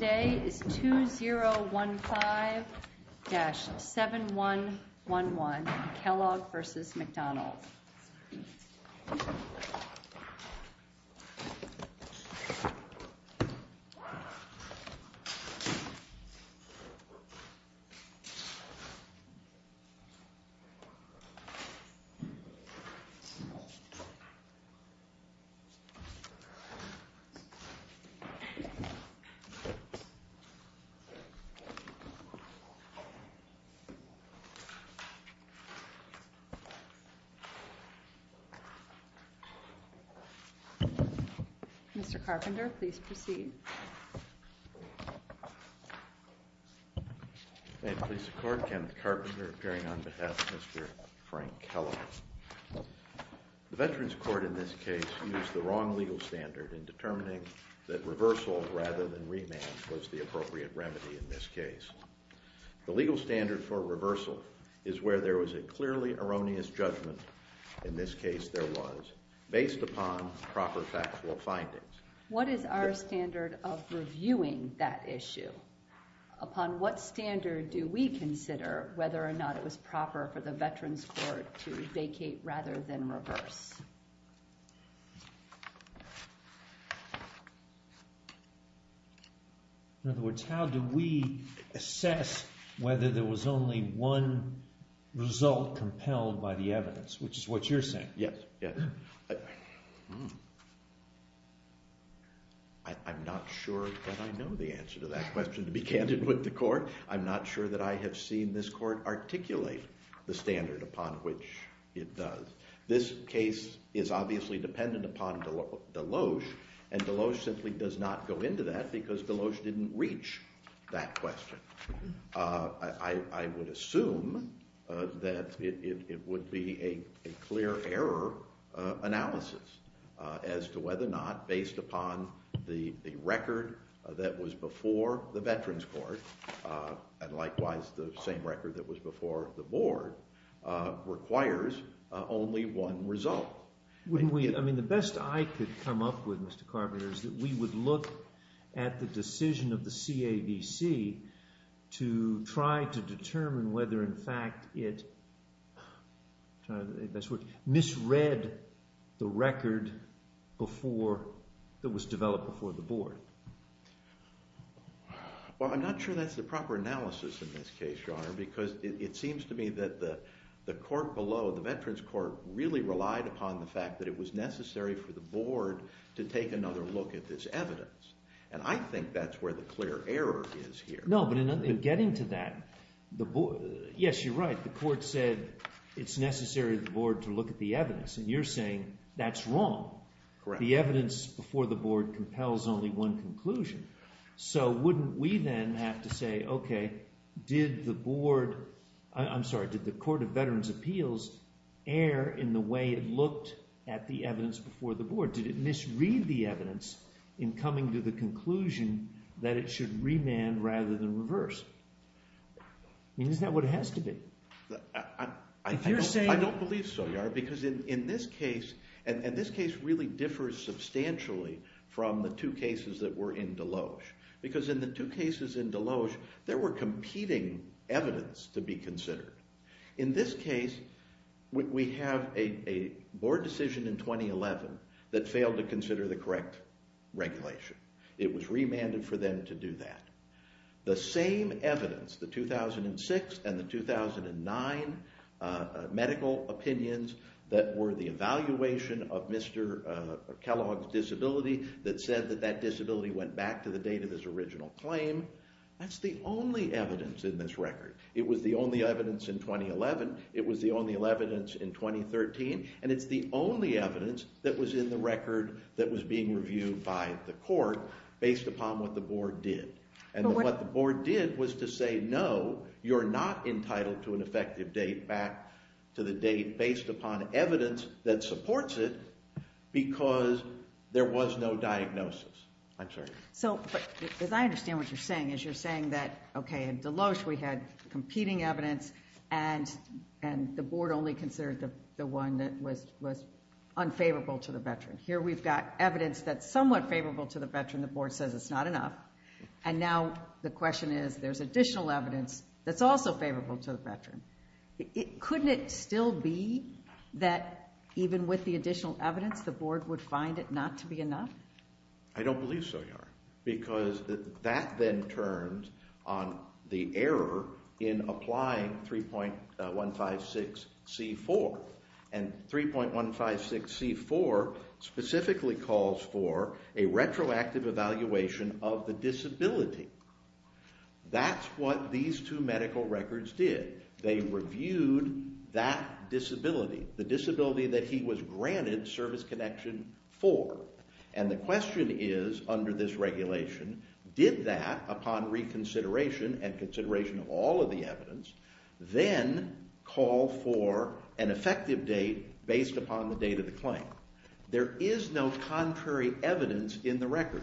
Today is 2015-7111 Kellogg v. McDonald Mr. Carpenter, please proceed. May it please the Court, Kenneth Carpenter appearing on behalf of Mr. Frank Kellogg. The Veterans Court in this case used the wrong legal standard in determining that reversal rather than remand was the appropriate remedy in this case. The legal standard for reversal is where there was a clearly erroneous judgment, in this case there was, based upon proper factual findings. What is our standard of reviewing that issue? Upon what standard do we consider whether or not it was proper for the Veterans Court to vacate rather than reverse? In other words, how do we assess whether there was only one result compelled by the evidence, which is what you're saying? Yes, yes. I'm not sure that I know the answer to that question, to be candid with the Court. I'm not sure that I have seen this Court articulate the standard upon which it does. This case is obviously dependent upon Deloge, and Deloge simply does not go into that because Deloge didn't reach that question. I would assume that it would be a clear error analysis as to whether or not, based upon the record that was before the Veterans Court, and likewise the same record that was before the Board, requires only one result. The best I could come up with, Mr. Carpenter, is that we would look at the decision of the CAVC to try to determine whether in fact it misread the record that was developed before the Board. Well, I'm not sure that's the proper analysis in this case, Your Honor, because it seems to me that the Court below, the Veterans Court, really relied upon the fact that it was necessary for the Board to take another look at this evidence. And I think that's where the clear error is here. No, but in getting to that, yes, you're right, the Court said it's necessary for the Board to look at the evidence, and you're saying that's wrong. The evidence before the Board compels only one conclusion. So wouldn't we then have to say, okay, did the Court of Veterans' Appeals err in the way it looked at the evidence before the Board? Did it misread the evidence in coming to the conclusion that it should remand rather than reverse? I mean, isn't that what it has to be? I don't believe so, Your Honor, because in this case, and this case really differs substantially from the two cases that were in Deloge, because in the two cases in Deloge, there were competing evidence to be considered. In this case, we have a Board decision in 2011 that failed to consider the correct regulation. It was remanded for them to do that. The same evidence, the 2006 and the 2009 medical opinions that were the evaluation of Mr. Kellogg's disability, that said that that disability went back to the date of his original claim, that's the only evidence in this record. It was the only evidence in 2011, it was the only evidence in 2013, and it's the only evidence that was in the record that was being reviewed by the Court based upon what the Board did. And what the Board did was to say, no, you're not entitled to an effective date back to the date based upon evidence that supports it because there was no diagnosis. I'm sorry. As I understand what you're saying is you're saying that, okay, in Deloge we had competing evidence, and the Board only considered the one that was unfavorable to the veteran. Here we've got evidence that's somewhat favorable to the veteran, the Board says it's not enough, and now the question is there's additional evidence that's also favorable to the veteran. Couldn't it still be that even with the additional evidence, the Board would find it not to be enough? I don't believe so, Yara, because that then turns on the error in applying 3.156C4, and 3.156C4 specifically calls for a retroactive evaluation of the disability. That's what these two medical records did. They reviewed that disability, the disability that he was granted service connection for. And the question is, under this regulation, did that, upon reconsideration and consideration of all of the evidence, then call for an effective date based upon the date of the claim? There is no contrary evidence in the record.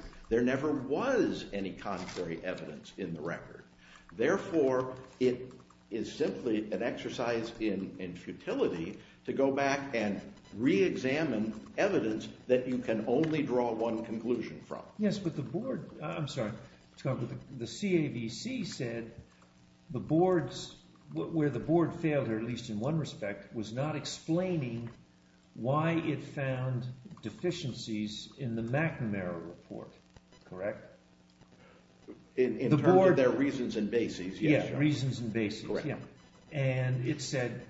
Therefore, it is simply an exercise in futility to go back and reexamine evidence that you can only draw one conclusion from. Yes, but the Board, I'm sorry, the CAVC said the Board's, where the Board failed, or at least in one respect, was not explaining why it found deficiencies in the McNamara report, correct? In terms of their reasons and bases, yes. Yeah, reasons and bases. Correct. And it said,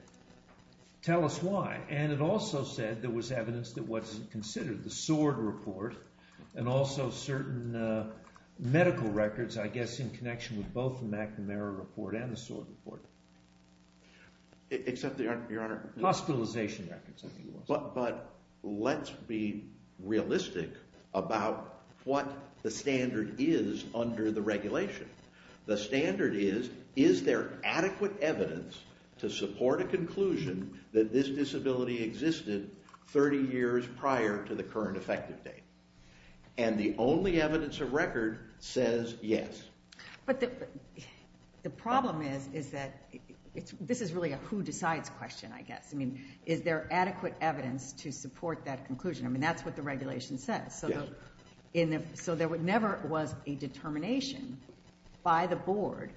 tell us why. And it also said there was evidence that wasn't considered, the SWORD report, and also certain medical records, I guess in connection with both the McNamara report and the SWORD report. Hospitalization records, I think it was. But let's be realistic about what the standard is under the regulation. The standard is, is there adequate evidence to support a conclusion that this disability existed 30 years prior to the current effective date? And the only evidence of record says yes. But the problem is, is that, this is really a who decides question, I guess. I mean, is there adequate evidence to support that conclusion? I mean, that's what the regulation says. So there never was a determination by the Board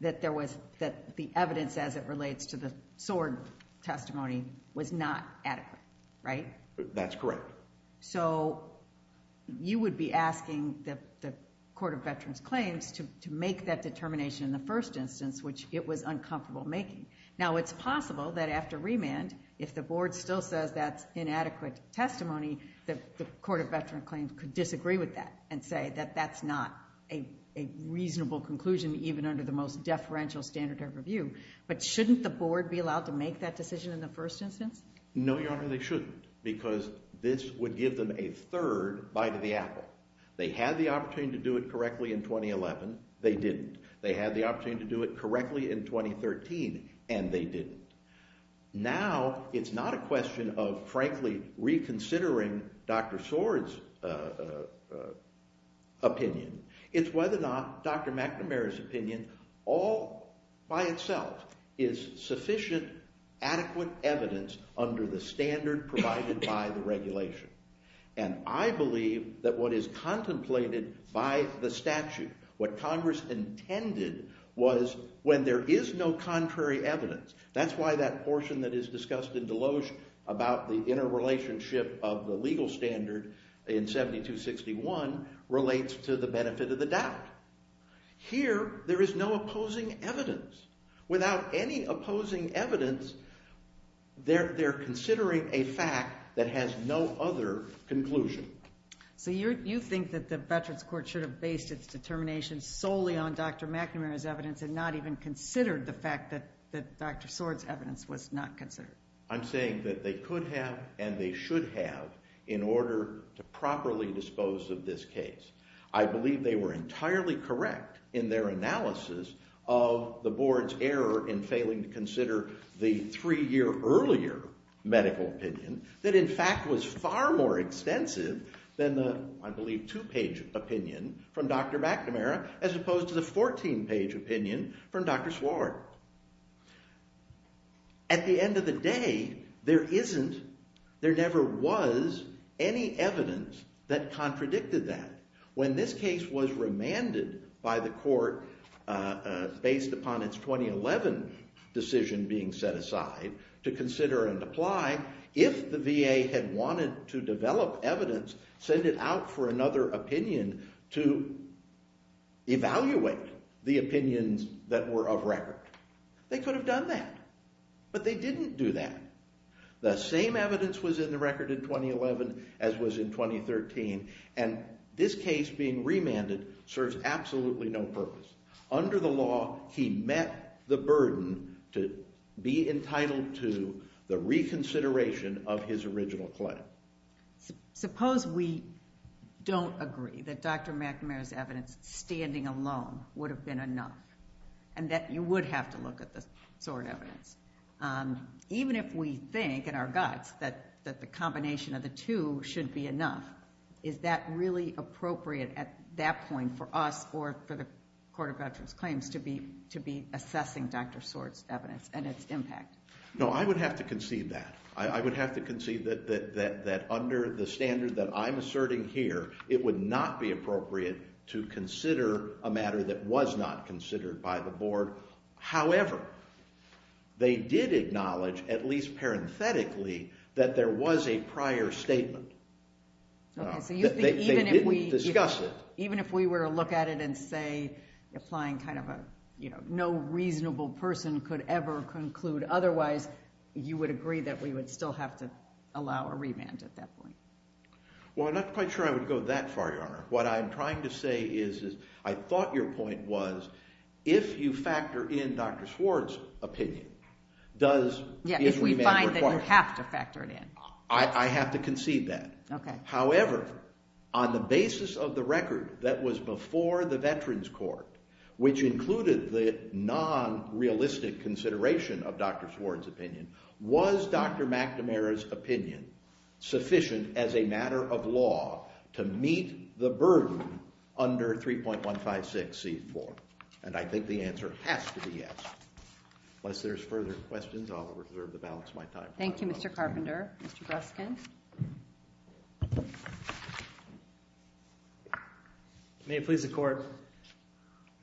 that there was, that the evidence as it relates to the SWORD testimony was not adequate, right? That's correct. So you would be asking the Court of Veterans Claims to make that determination in the first instance, which it was uncomfortable making. Now, it's possible that after remand, if the Board still says that's inadequate testimony, the Court of Veterans Claims could disagree with that and say that that's not a reasonable conclusion, even under the most deferential standard of review. But shouldn't the Board be allowed to make that decision in the first instance? No, Your Honor, they shouldn't, because this would give them a third bite of the apple. They had the opportunity to do it correctly in 2011. They didn't. They had the opportunity to do it correctly in 2013, and they didn't. Now, it's not a question of, frankly, reconsidering Dr. SWORD's opinion. It's whether or not Dr. McNamara's opinion all by itself is sufficient, adequate evidence under the standard provided by the regulation. And I believe that what is contemplated by the statute, what Congress intended, was when there is no contrary evidence. That's why that portion that is discussed in Deloge about the interrelationship of the legal standard in 7261 relates to the benefit of the doubt. Here, there is no opposing evidence. Without any opposing evidence, they're considering a fact that has no other conclusion. So you think that the Veterans Court should have based its determination solely on Dr. McNamara's evidence and not even considered the fact that Dr. SWORD's evidence was not considered? I'm saying that they could have and they should have in order to properly dispose of this case. I believe they were entirely correct in their analysis of the board's error in failing to consider the three-year earlier medical opinion that, in fact, was far more extensive than the, I believe, two-page opinion from Dr. McNamara as opposed to the 14-page opinion from Dr. SWORD. At the end of the day, there never was any evidence that contradicted that. When this case was remanded by the court based upon its 2011 decision being set aside to consider and apply, if the VA had wanted to develop evidence, send it out for another opinion to evaluate the opinions that were of record. They could have done that. But they didn't do that. The same evidence was in the record in 2011 as was in 2013, and this case being remanded serves absolutely no purpose. Under the law, he met the burden to be entitled to the reconsideration of his original claim. Suppose we don't agree that Dr. McNamara's evidence standing alone would have been enough and that you would have to look at the SWORD evidence. Even if we think in our guts that the combination of the two should be enough, is that really appropriate at that point for us or for the Court of Veterans Claims to be assessing Dr. SWORD's evidence and its impact? No, I would have to concede that. I would have to concede that under the standard that I'm asserting here, it would not be appropriate to consider a matter that was not considered by the board. However, they did acknowledge, at least parenthetically, that there was a prior statement. They did discuss it. Even if we were to look at it and say, applying kind of a, you know, no reasonable person could ever conclude otherwise, you would agree that we would still have to allow a remand at that point? Well, I'm not quite sure I would go that far, Your Honor. What I'm trying to say is I thought your point was if you factor in Dr. SWORD's opinion, does… Yeah, if we find that you have to factor it in. I have to concede that. Okay. However, on the basis of the record that was before the Veterans Court, which included the non-realistic consideration of Dr. SWORD's opinion, was Dr. McNamara's opinion sufficient as a matter of law to meet the burden under 3.156c4? And I think the answer has to be yes. Unless there's further questions, I'll reserve the balance of my time. Thank you, Mr. Carpenter. Mr. Breskin. May it please the Court,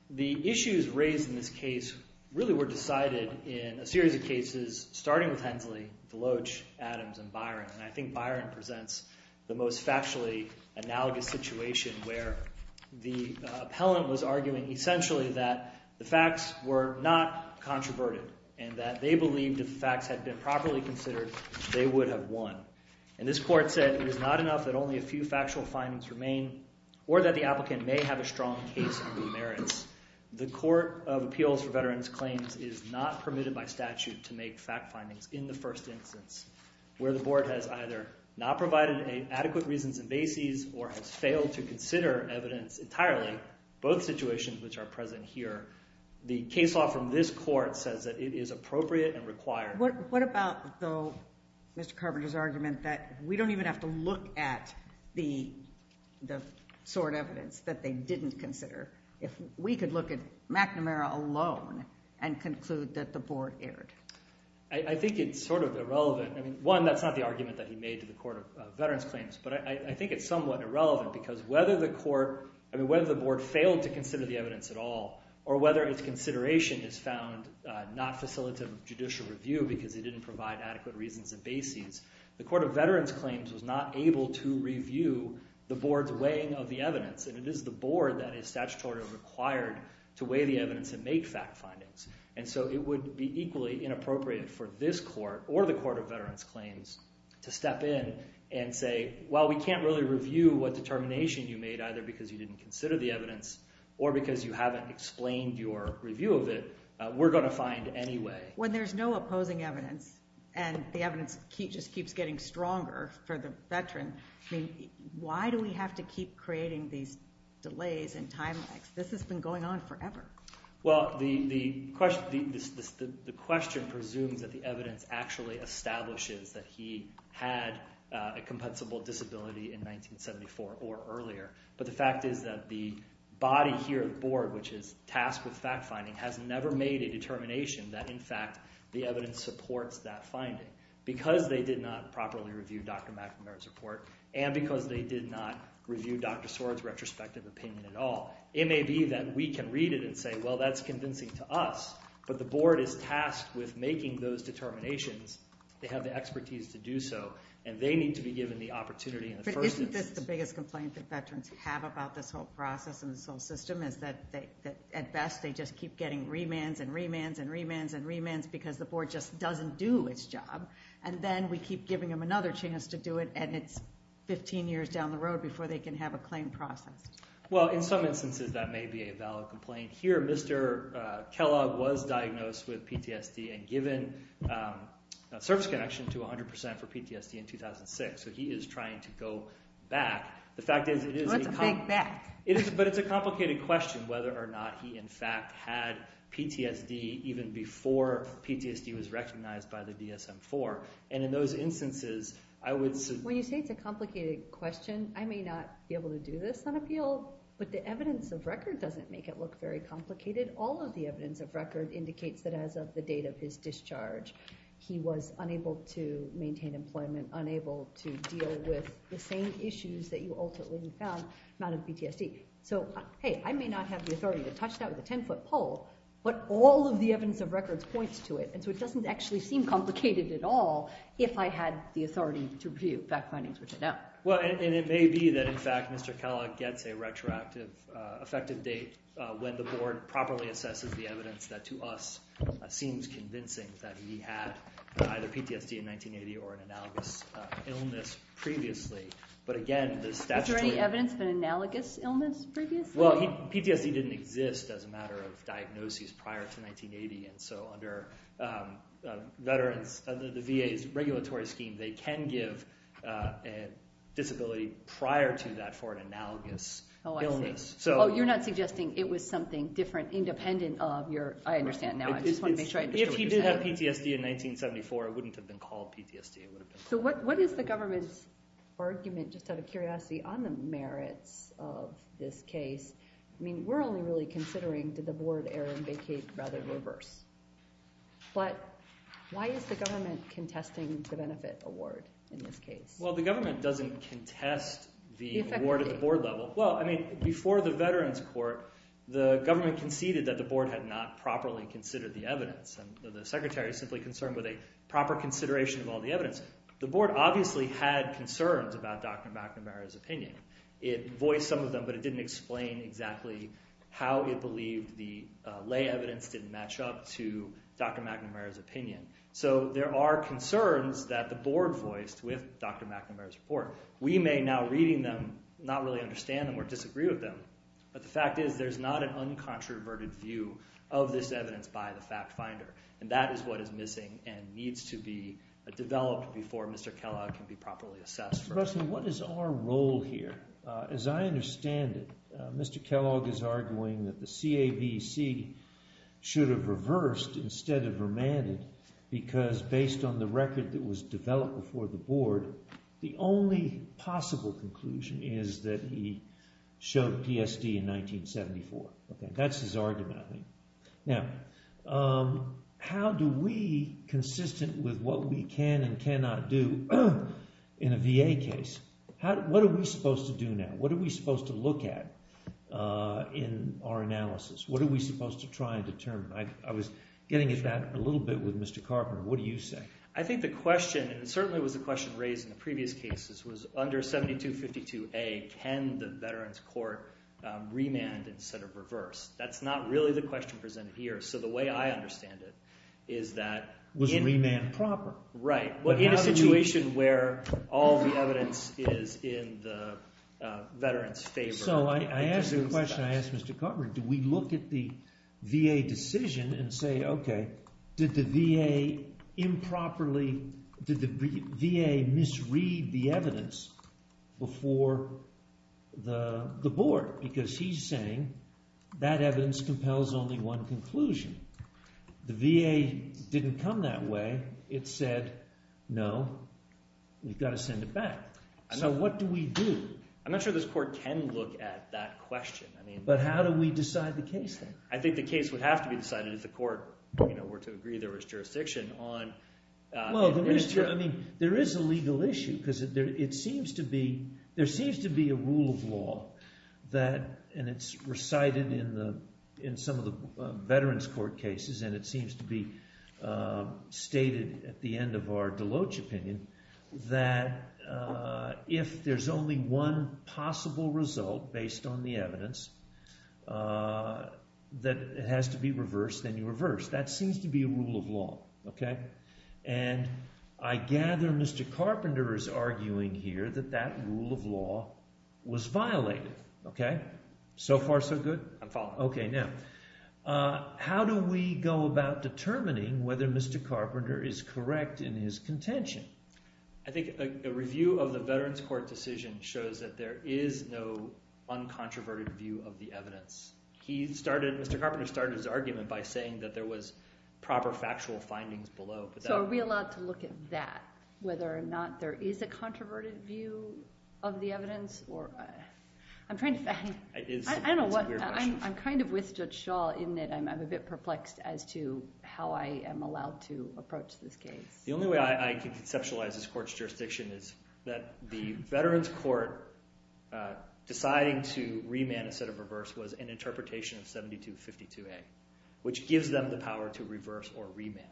the issues raised in this case really were decided in a series of cases starting with Hensley, Deloach, Adams, and Byron. And I think Byron presents the most factually analogous situation where the appellant was arguing essentially that the facts were not controverted and that they believed if the facts had been properly considered, they would have won. And this court said it was not enough that only a few factual findings remain or that the applicant may have a strong case under the merits. The Court of Appeals for Veterans Claims is not permitted by statute to make fact findings in the first instance where the board has either not provided adequate reasons and bases or has failed to consider evidence entirely, both situations which are present here. The case law from this court says that it is appropriate and required. What about, though, Mr. Carpenter's argument that we don't even have to look at the sort of evidence that they didn't consider if we could look at McNamara alone and conclude that the board erred? I think it's sort of irrelevant. I mean, one, that's not the argument that he made to the Court of Veterans Claims. But I think it's somewhat irrelevant because whether the board failed to consider the evidence at all or whether its consideration is found not facilitative judicial review because it didn't provide adequate reasons and bases, the Court of Veterans Claims was not able to review the board's weighing of the evidence. And it is the board that is statutorily required to weigh the evidence and make fact findings. And so it would be equally inappropriate for this court or the Court of Veterans Claims to step in and say, well, we can't really review what determination you made either because you didn't consider the evidence or because you haven't explained your review of it. We're going to find anyway. When there's no opposing evidence and the evidence just keeps getting stronger for the veteran, why do we have to keep creating these delays and time lags? This has been going on forever. Well, the question presumes that the evidence actually establishes that he had a compensable disability in 1974 or earlier. But the fact is that the body here at the board, which is tasked with fact finding, has never made a determination that, in fact, the evidence supports that finding. Because they did not properly review Dr. McNamara's report and because they did not review Dr. Swartz's retrospective opinion at all. It may be that we can read it and say, well, that's convincing to us. But the board is tasked with making those determinations. They have the expertise to do so. And they need to be given the opportunity in the first instance. I think it's the biggest complaint that veterans have about this whole process and this whole system is that, at best, they just keep getting remands and remands and remands and remands because the board just doesn't do its job. And then we keep giving them another chance to do it and it's 15 years down the road before they can have a claim processed. Well, in some instances that may be a valid complaint. Here, Mr. Kellogg was diagnosed with PTSD and given a service connection to 100% for PTSD in 2006. So he is trying to go back. The fact is it is a complicated question whether or not he, in fact, had PTSD even before PTSD was recognized by the DSM-IV. And in those instances, I would say… When you say it's a complicated question, I may not be able to do this on appeal. But the evidence of record doesn't make it look very complicated. All of the evidence of record indicates that as of the date of his discharge, he was unable to maintain employment. Unable to deal with the same issues that you ultimately found, amount of PTSD. So, hey, I may not have the authority to touch that with a 10-foot pole, but all of the evidence of record points to it. And so it doesn't actually seem complicated at all if I had the authority to review fact findings, which I don't. Well, and it may be that, in fact, Mr. Kellogg gets a retroactive effective date when the board properly assesses the evidence that to us seems convincing that he had either PTSD in 1980 or an analogous illness previously. But again, the statutory… Is there any evidence of an analogous illness previously? Well, PTSD didn't exist as a matter of diagnosis prior to 1980. And so under the VA's regulatory scheme, they can give a disability prior to that for an analogous illness. Oh, I see. Oh, you're not suggesting it was something different independent of your… I understand now. If he did have PTSD in 1974, it wouldn't have been called PTSD. So what is the government's argument, just out of curiosity, on the merits of this case? I mean, we're only really considering did the board err and vacate rather than reverse. But why is the government contesting the benefit award in this case? Well, the government doesn't contest the award at the board level. Well, I mean, before the Veterans Court, the government conceded that the board had not properly considered the evidence. The secretary is simply concerned with a proper consideration of all the evidence. The board obviously had concerns about Dr. McNamara's opinion. It voiced some of them, but it didn't explain exactly how it believed the lay evidence didn't match up to Dr. McNamara's opinion. So there are concerns that the board voiced with Dr. McNamara's report. We may now, reading them, not really understand them or disagree with them. But the fact is there's not an uncontroverted view of this evidence by the fact finder. And that is what is missing and needs to be developed before Mr. Kellogg can be properly assessed. Mr. Russel, what is our role here? As I understand it, Mr. Kellogg is arguing that the CAVC should have reversed instead of remanded because based on the record that was developed before the board, the only possible conclusion is that he showed PSD in 1974. That's his argument, I think. Now, how do we, consistent with what we can and cannot do in a VA case, what are we supposed to do now? What are we supposed to look at in our analysis? What are we supposed to try and determine? I was getting at that a little bit with Mr. Carpenter. What do you say? I think the question, and it certainly was the question raised in the previous cases, was under 7252A, can the Veterans Court remand instead of reverse? That's not really the question presented here. So the way I understand it is that… Was remand proper. Right. In a situation where all the evidence is in the Veterans' favor. So I asked a question. I asked Mr. Carpenter, do we look at the VA decision and say, okay, did the VA improperly – did the VA misread the evidence before the board? Because he's saying that evidence compels only one conclusion. The VA didn't come that way. It said, no, we've got to send it back. So what do we do? I'm not sure this court can look at that question. But how do we decide the case then? I think the case would have to be decided if the court were to agree there was jurisdiction on… There is a legal issue because it seems to be – there seems to be a rule of law that – and it's recited in some of the Veterans Court cases and it seems to be stated at the end of our Deloach opinion that if there's only one possible result based on the evidence that has to be reversed, then you reverse. That seems to be a rule of law. And I gather Mr. Carpenter is arguing here that that rule of law was violated. So far, so good? I'm following. Okay. Now, how do we go about determining whether Mr. Carpenter is correct in his contention? I think a review of the Veterans Court decision shows that there is no uncontroverted view of the evidence. He started – Mr. Carpenter started his argument by saying that there was proper factual findings below. So are we allowed to look at that, whether or not there is a controverted view of the evidence? I'm trying to find – I don't know what – I'm kind of with Judge Schall in that I'm a bit perplexed as to how I am allowed to approach this case. The only way I can conceptualize this court's jurisdiction is that the Veterans Court deciding to remand instead of reverse was an interpretation of 7252A, which gives them the power to reverse or remand.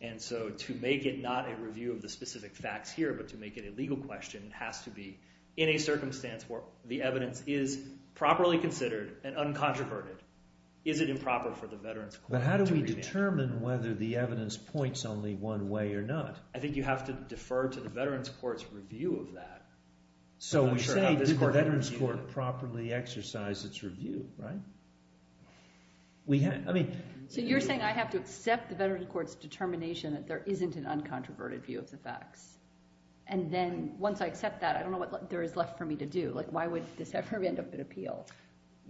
And so to make it not a review of the specific facts here but to make it a legal question has to be in a circumstance where the evidence is properly considered and uncontroverted. Is it improper for the Veterans Court to remand? It depends on whether the evidence points only one way or not. I think you have to defer to the Veterans Court's review of that. So we say did the Veterans Court properly exercise its review, right? We have – I mean – So you're saying I have to accept the Veterans Court's determination that there isn't an uncontroverted view of the facts. And then once I accept that, I don't know what there is left for me to do. Like why would this ever end up at appeal?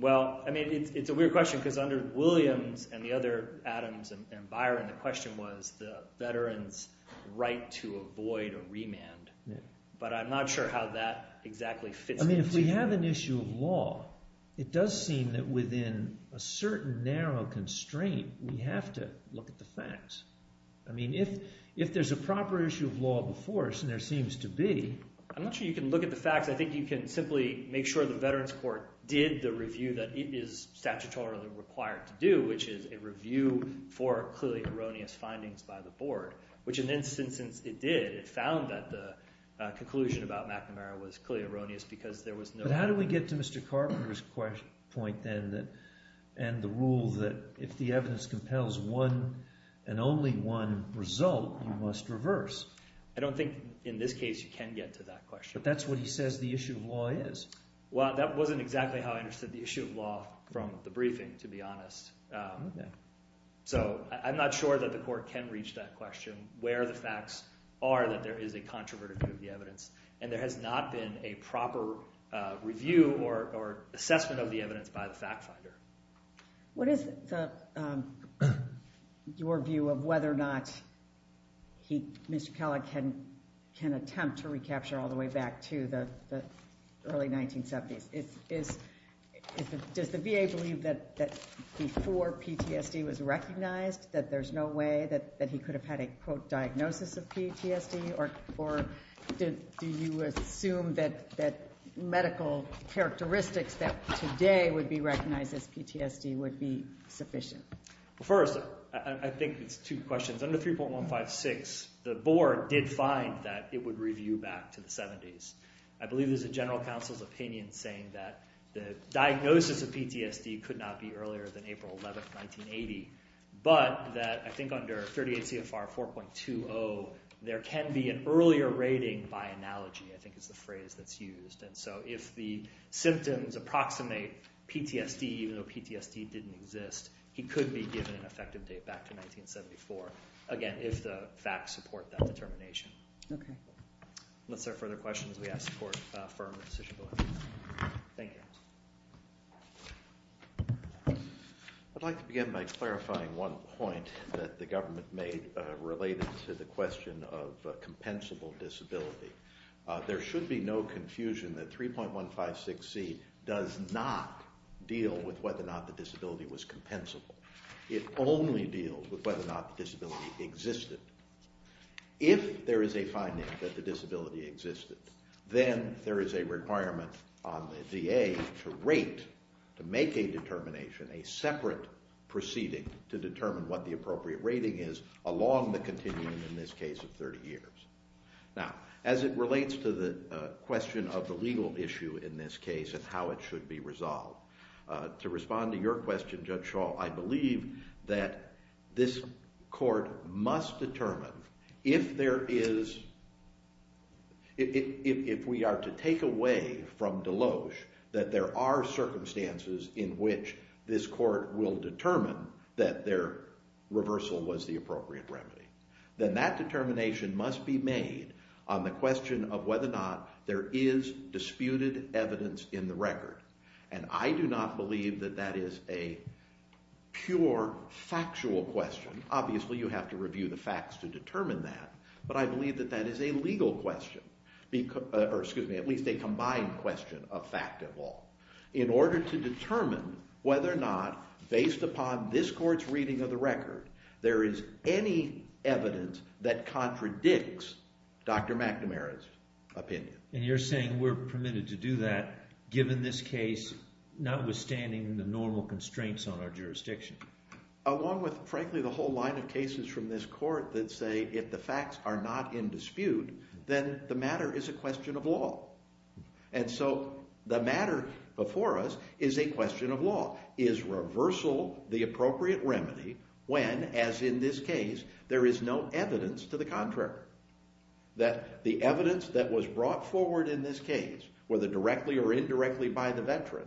Well, I mean it's a weird question because under Williams and the other Adams and Byron, the question was the veterans' right to avoid a remand. But I'm not sure how that exactly fits into – I mean if we have an issue of law, it does seem that within a certain narrow constraint, we have to look at the facts. I mean if there's a proper issue of law before us, and there seems to be – I'm not sure you can look at the facts. I think you can simply make sure the Veterans Court did the review that it is statutorily required to do, which is a review for clearly erroneous findings by the board, which in this instance it did. It found that the conclusion about McNamara was clearly erroneous because there was no – But how do we get to Mr. Carpenter's point then and the rule that if the evidence compels one and only one result, you must reverse? I don't think in this case you can get to that question. But that's what he says the issue of law is. Well, that wasn't exactly how I understood the issue of law from the briefing to be honest. So I'm not sure that the court can reach that question where the facts are that there is a controverted view of the evidence, and there has not been a proper review or assessment of the evidence by the fact finder. What is your view of whether or not he, Mr. Kellogg, can attempt to recapture all the way back to the early 1970s? Does the VA believe that before PTSD was recognized that there's no way that he could have had a, quote, or do you assume that medical characteristics that today would be recognized as PTSD would be sufficient? First, I think it's two questions. Under 3.156, the board did find that it would review back to the 70s. I believe there's a general counsel's opinion saying that the diagnosis of PTSD could not be earlier than April 11, 1980, but that I think under 38 CFR 4.20, there can be an earlier rating by analogy, I think is the phrase that's used. And so if the symptoms approximate PTSD, even though PTSD didn't exist, he could be given an effective date back to 1974, again, if the facts support that determination. Okay. Unless there are further questions, we ask for a firm decision. Thank you. I'd like to begin by clarifying one point that the government made related to the question of compensable disability. There should be no confusion that 3.156C does not deal with whether or not the disability was compensable. It only deals with whether or not the disability existed. If there is a finding that the disability existed, then there is a requirement on the DA to rate, to make a determination, a separate proceeding to determine what the appropriate rating is along the continuum in this case of 30 years. Now, as it relates to the question of the legal issue in this case and how it should be resolved, to respond to your question, Judge Shaw, I believe that this court must determine if there is, if we are to take away from Deloge that there are circumstances in which this court will determine that their reversal was the appropriate remedy, then that determination must be made on the question of whether or not there is disputed evidence in the record. And I do not believe that that is a pure factual question. Obviously, you have to review the facts to determine that. But I believe that that is a legal question, or excuse me, at least a combined question of fact and law, in order to determine whether or not, based upon this court's reading of the record, there is any evidence that contradicts Dr. McNamara's opinion. And you're saying we're permitted to do that given this case, notwithstanding the normal constraints on our jurisdiction? Along with, frankly, the whole line of cases from this court that say if the facts are not in dispute, then the matter is a question of law. And so the matter before us is a question of law. Is reversal the appropriate remedy when, as in this case, there is no evidence to the contrary? That the evidence that was brought forward in this case, whether directly or indirectly by the veteran,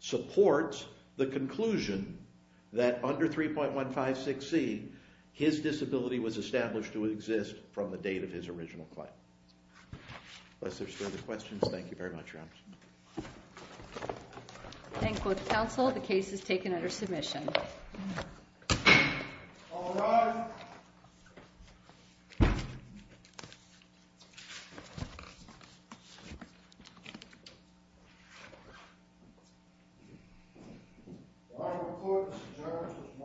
supports the conclusion that under 3.156c, his disability was established to exist from the date of his original claim. Unless there's further questions, thank you very much, Your Honor. Thank you, counsel. The case is taken under submission. All rise. The case is submitted.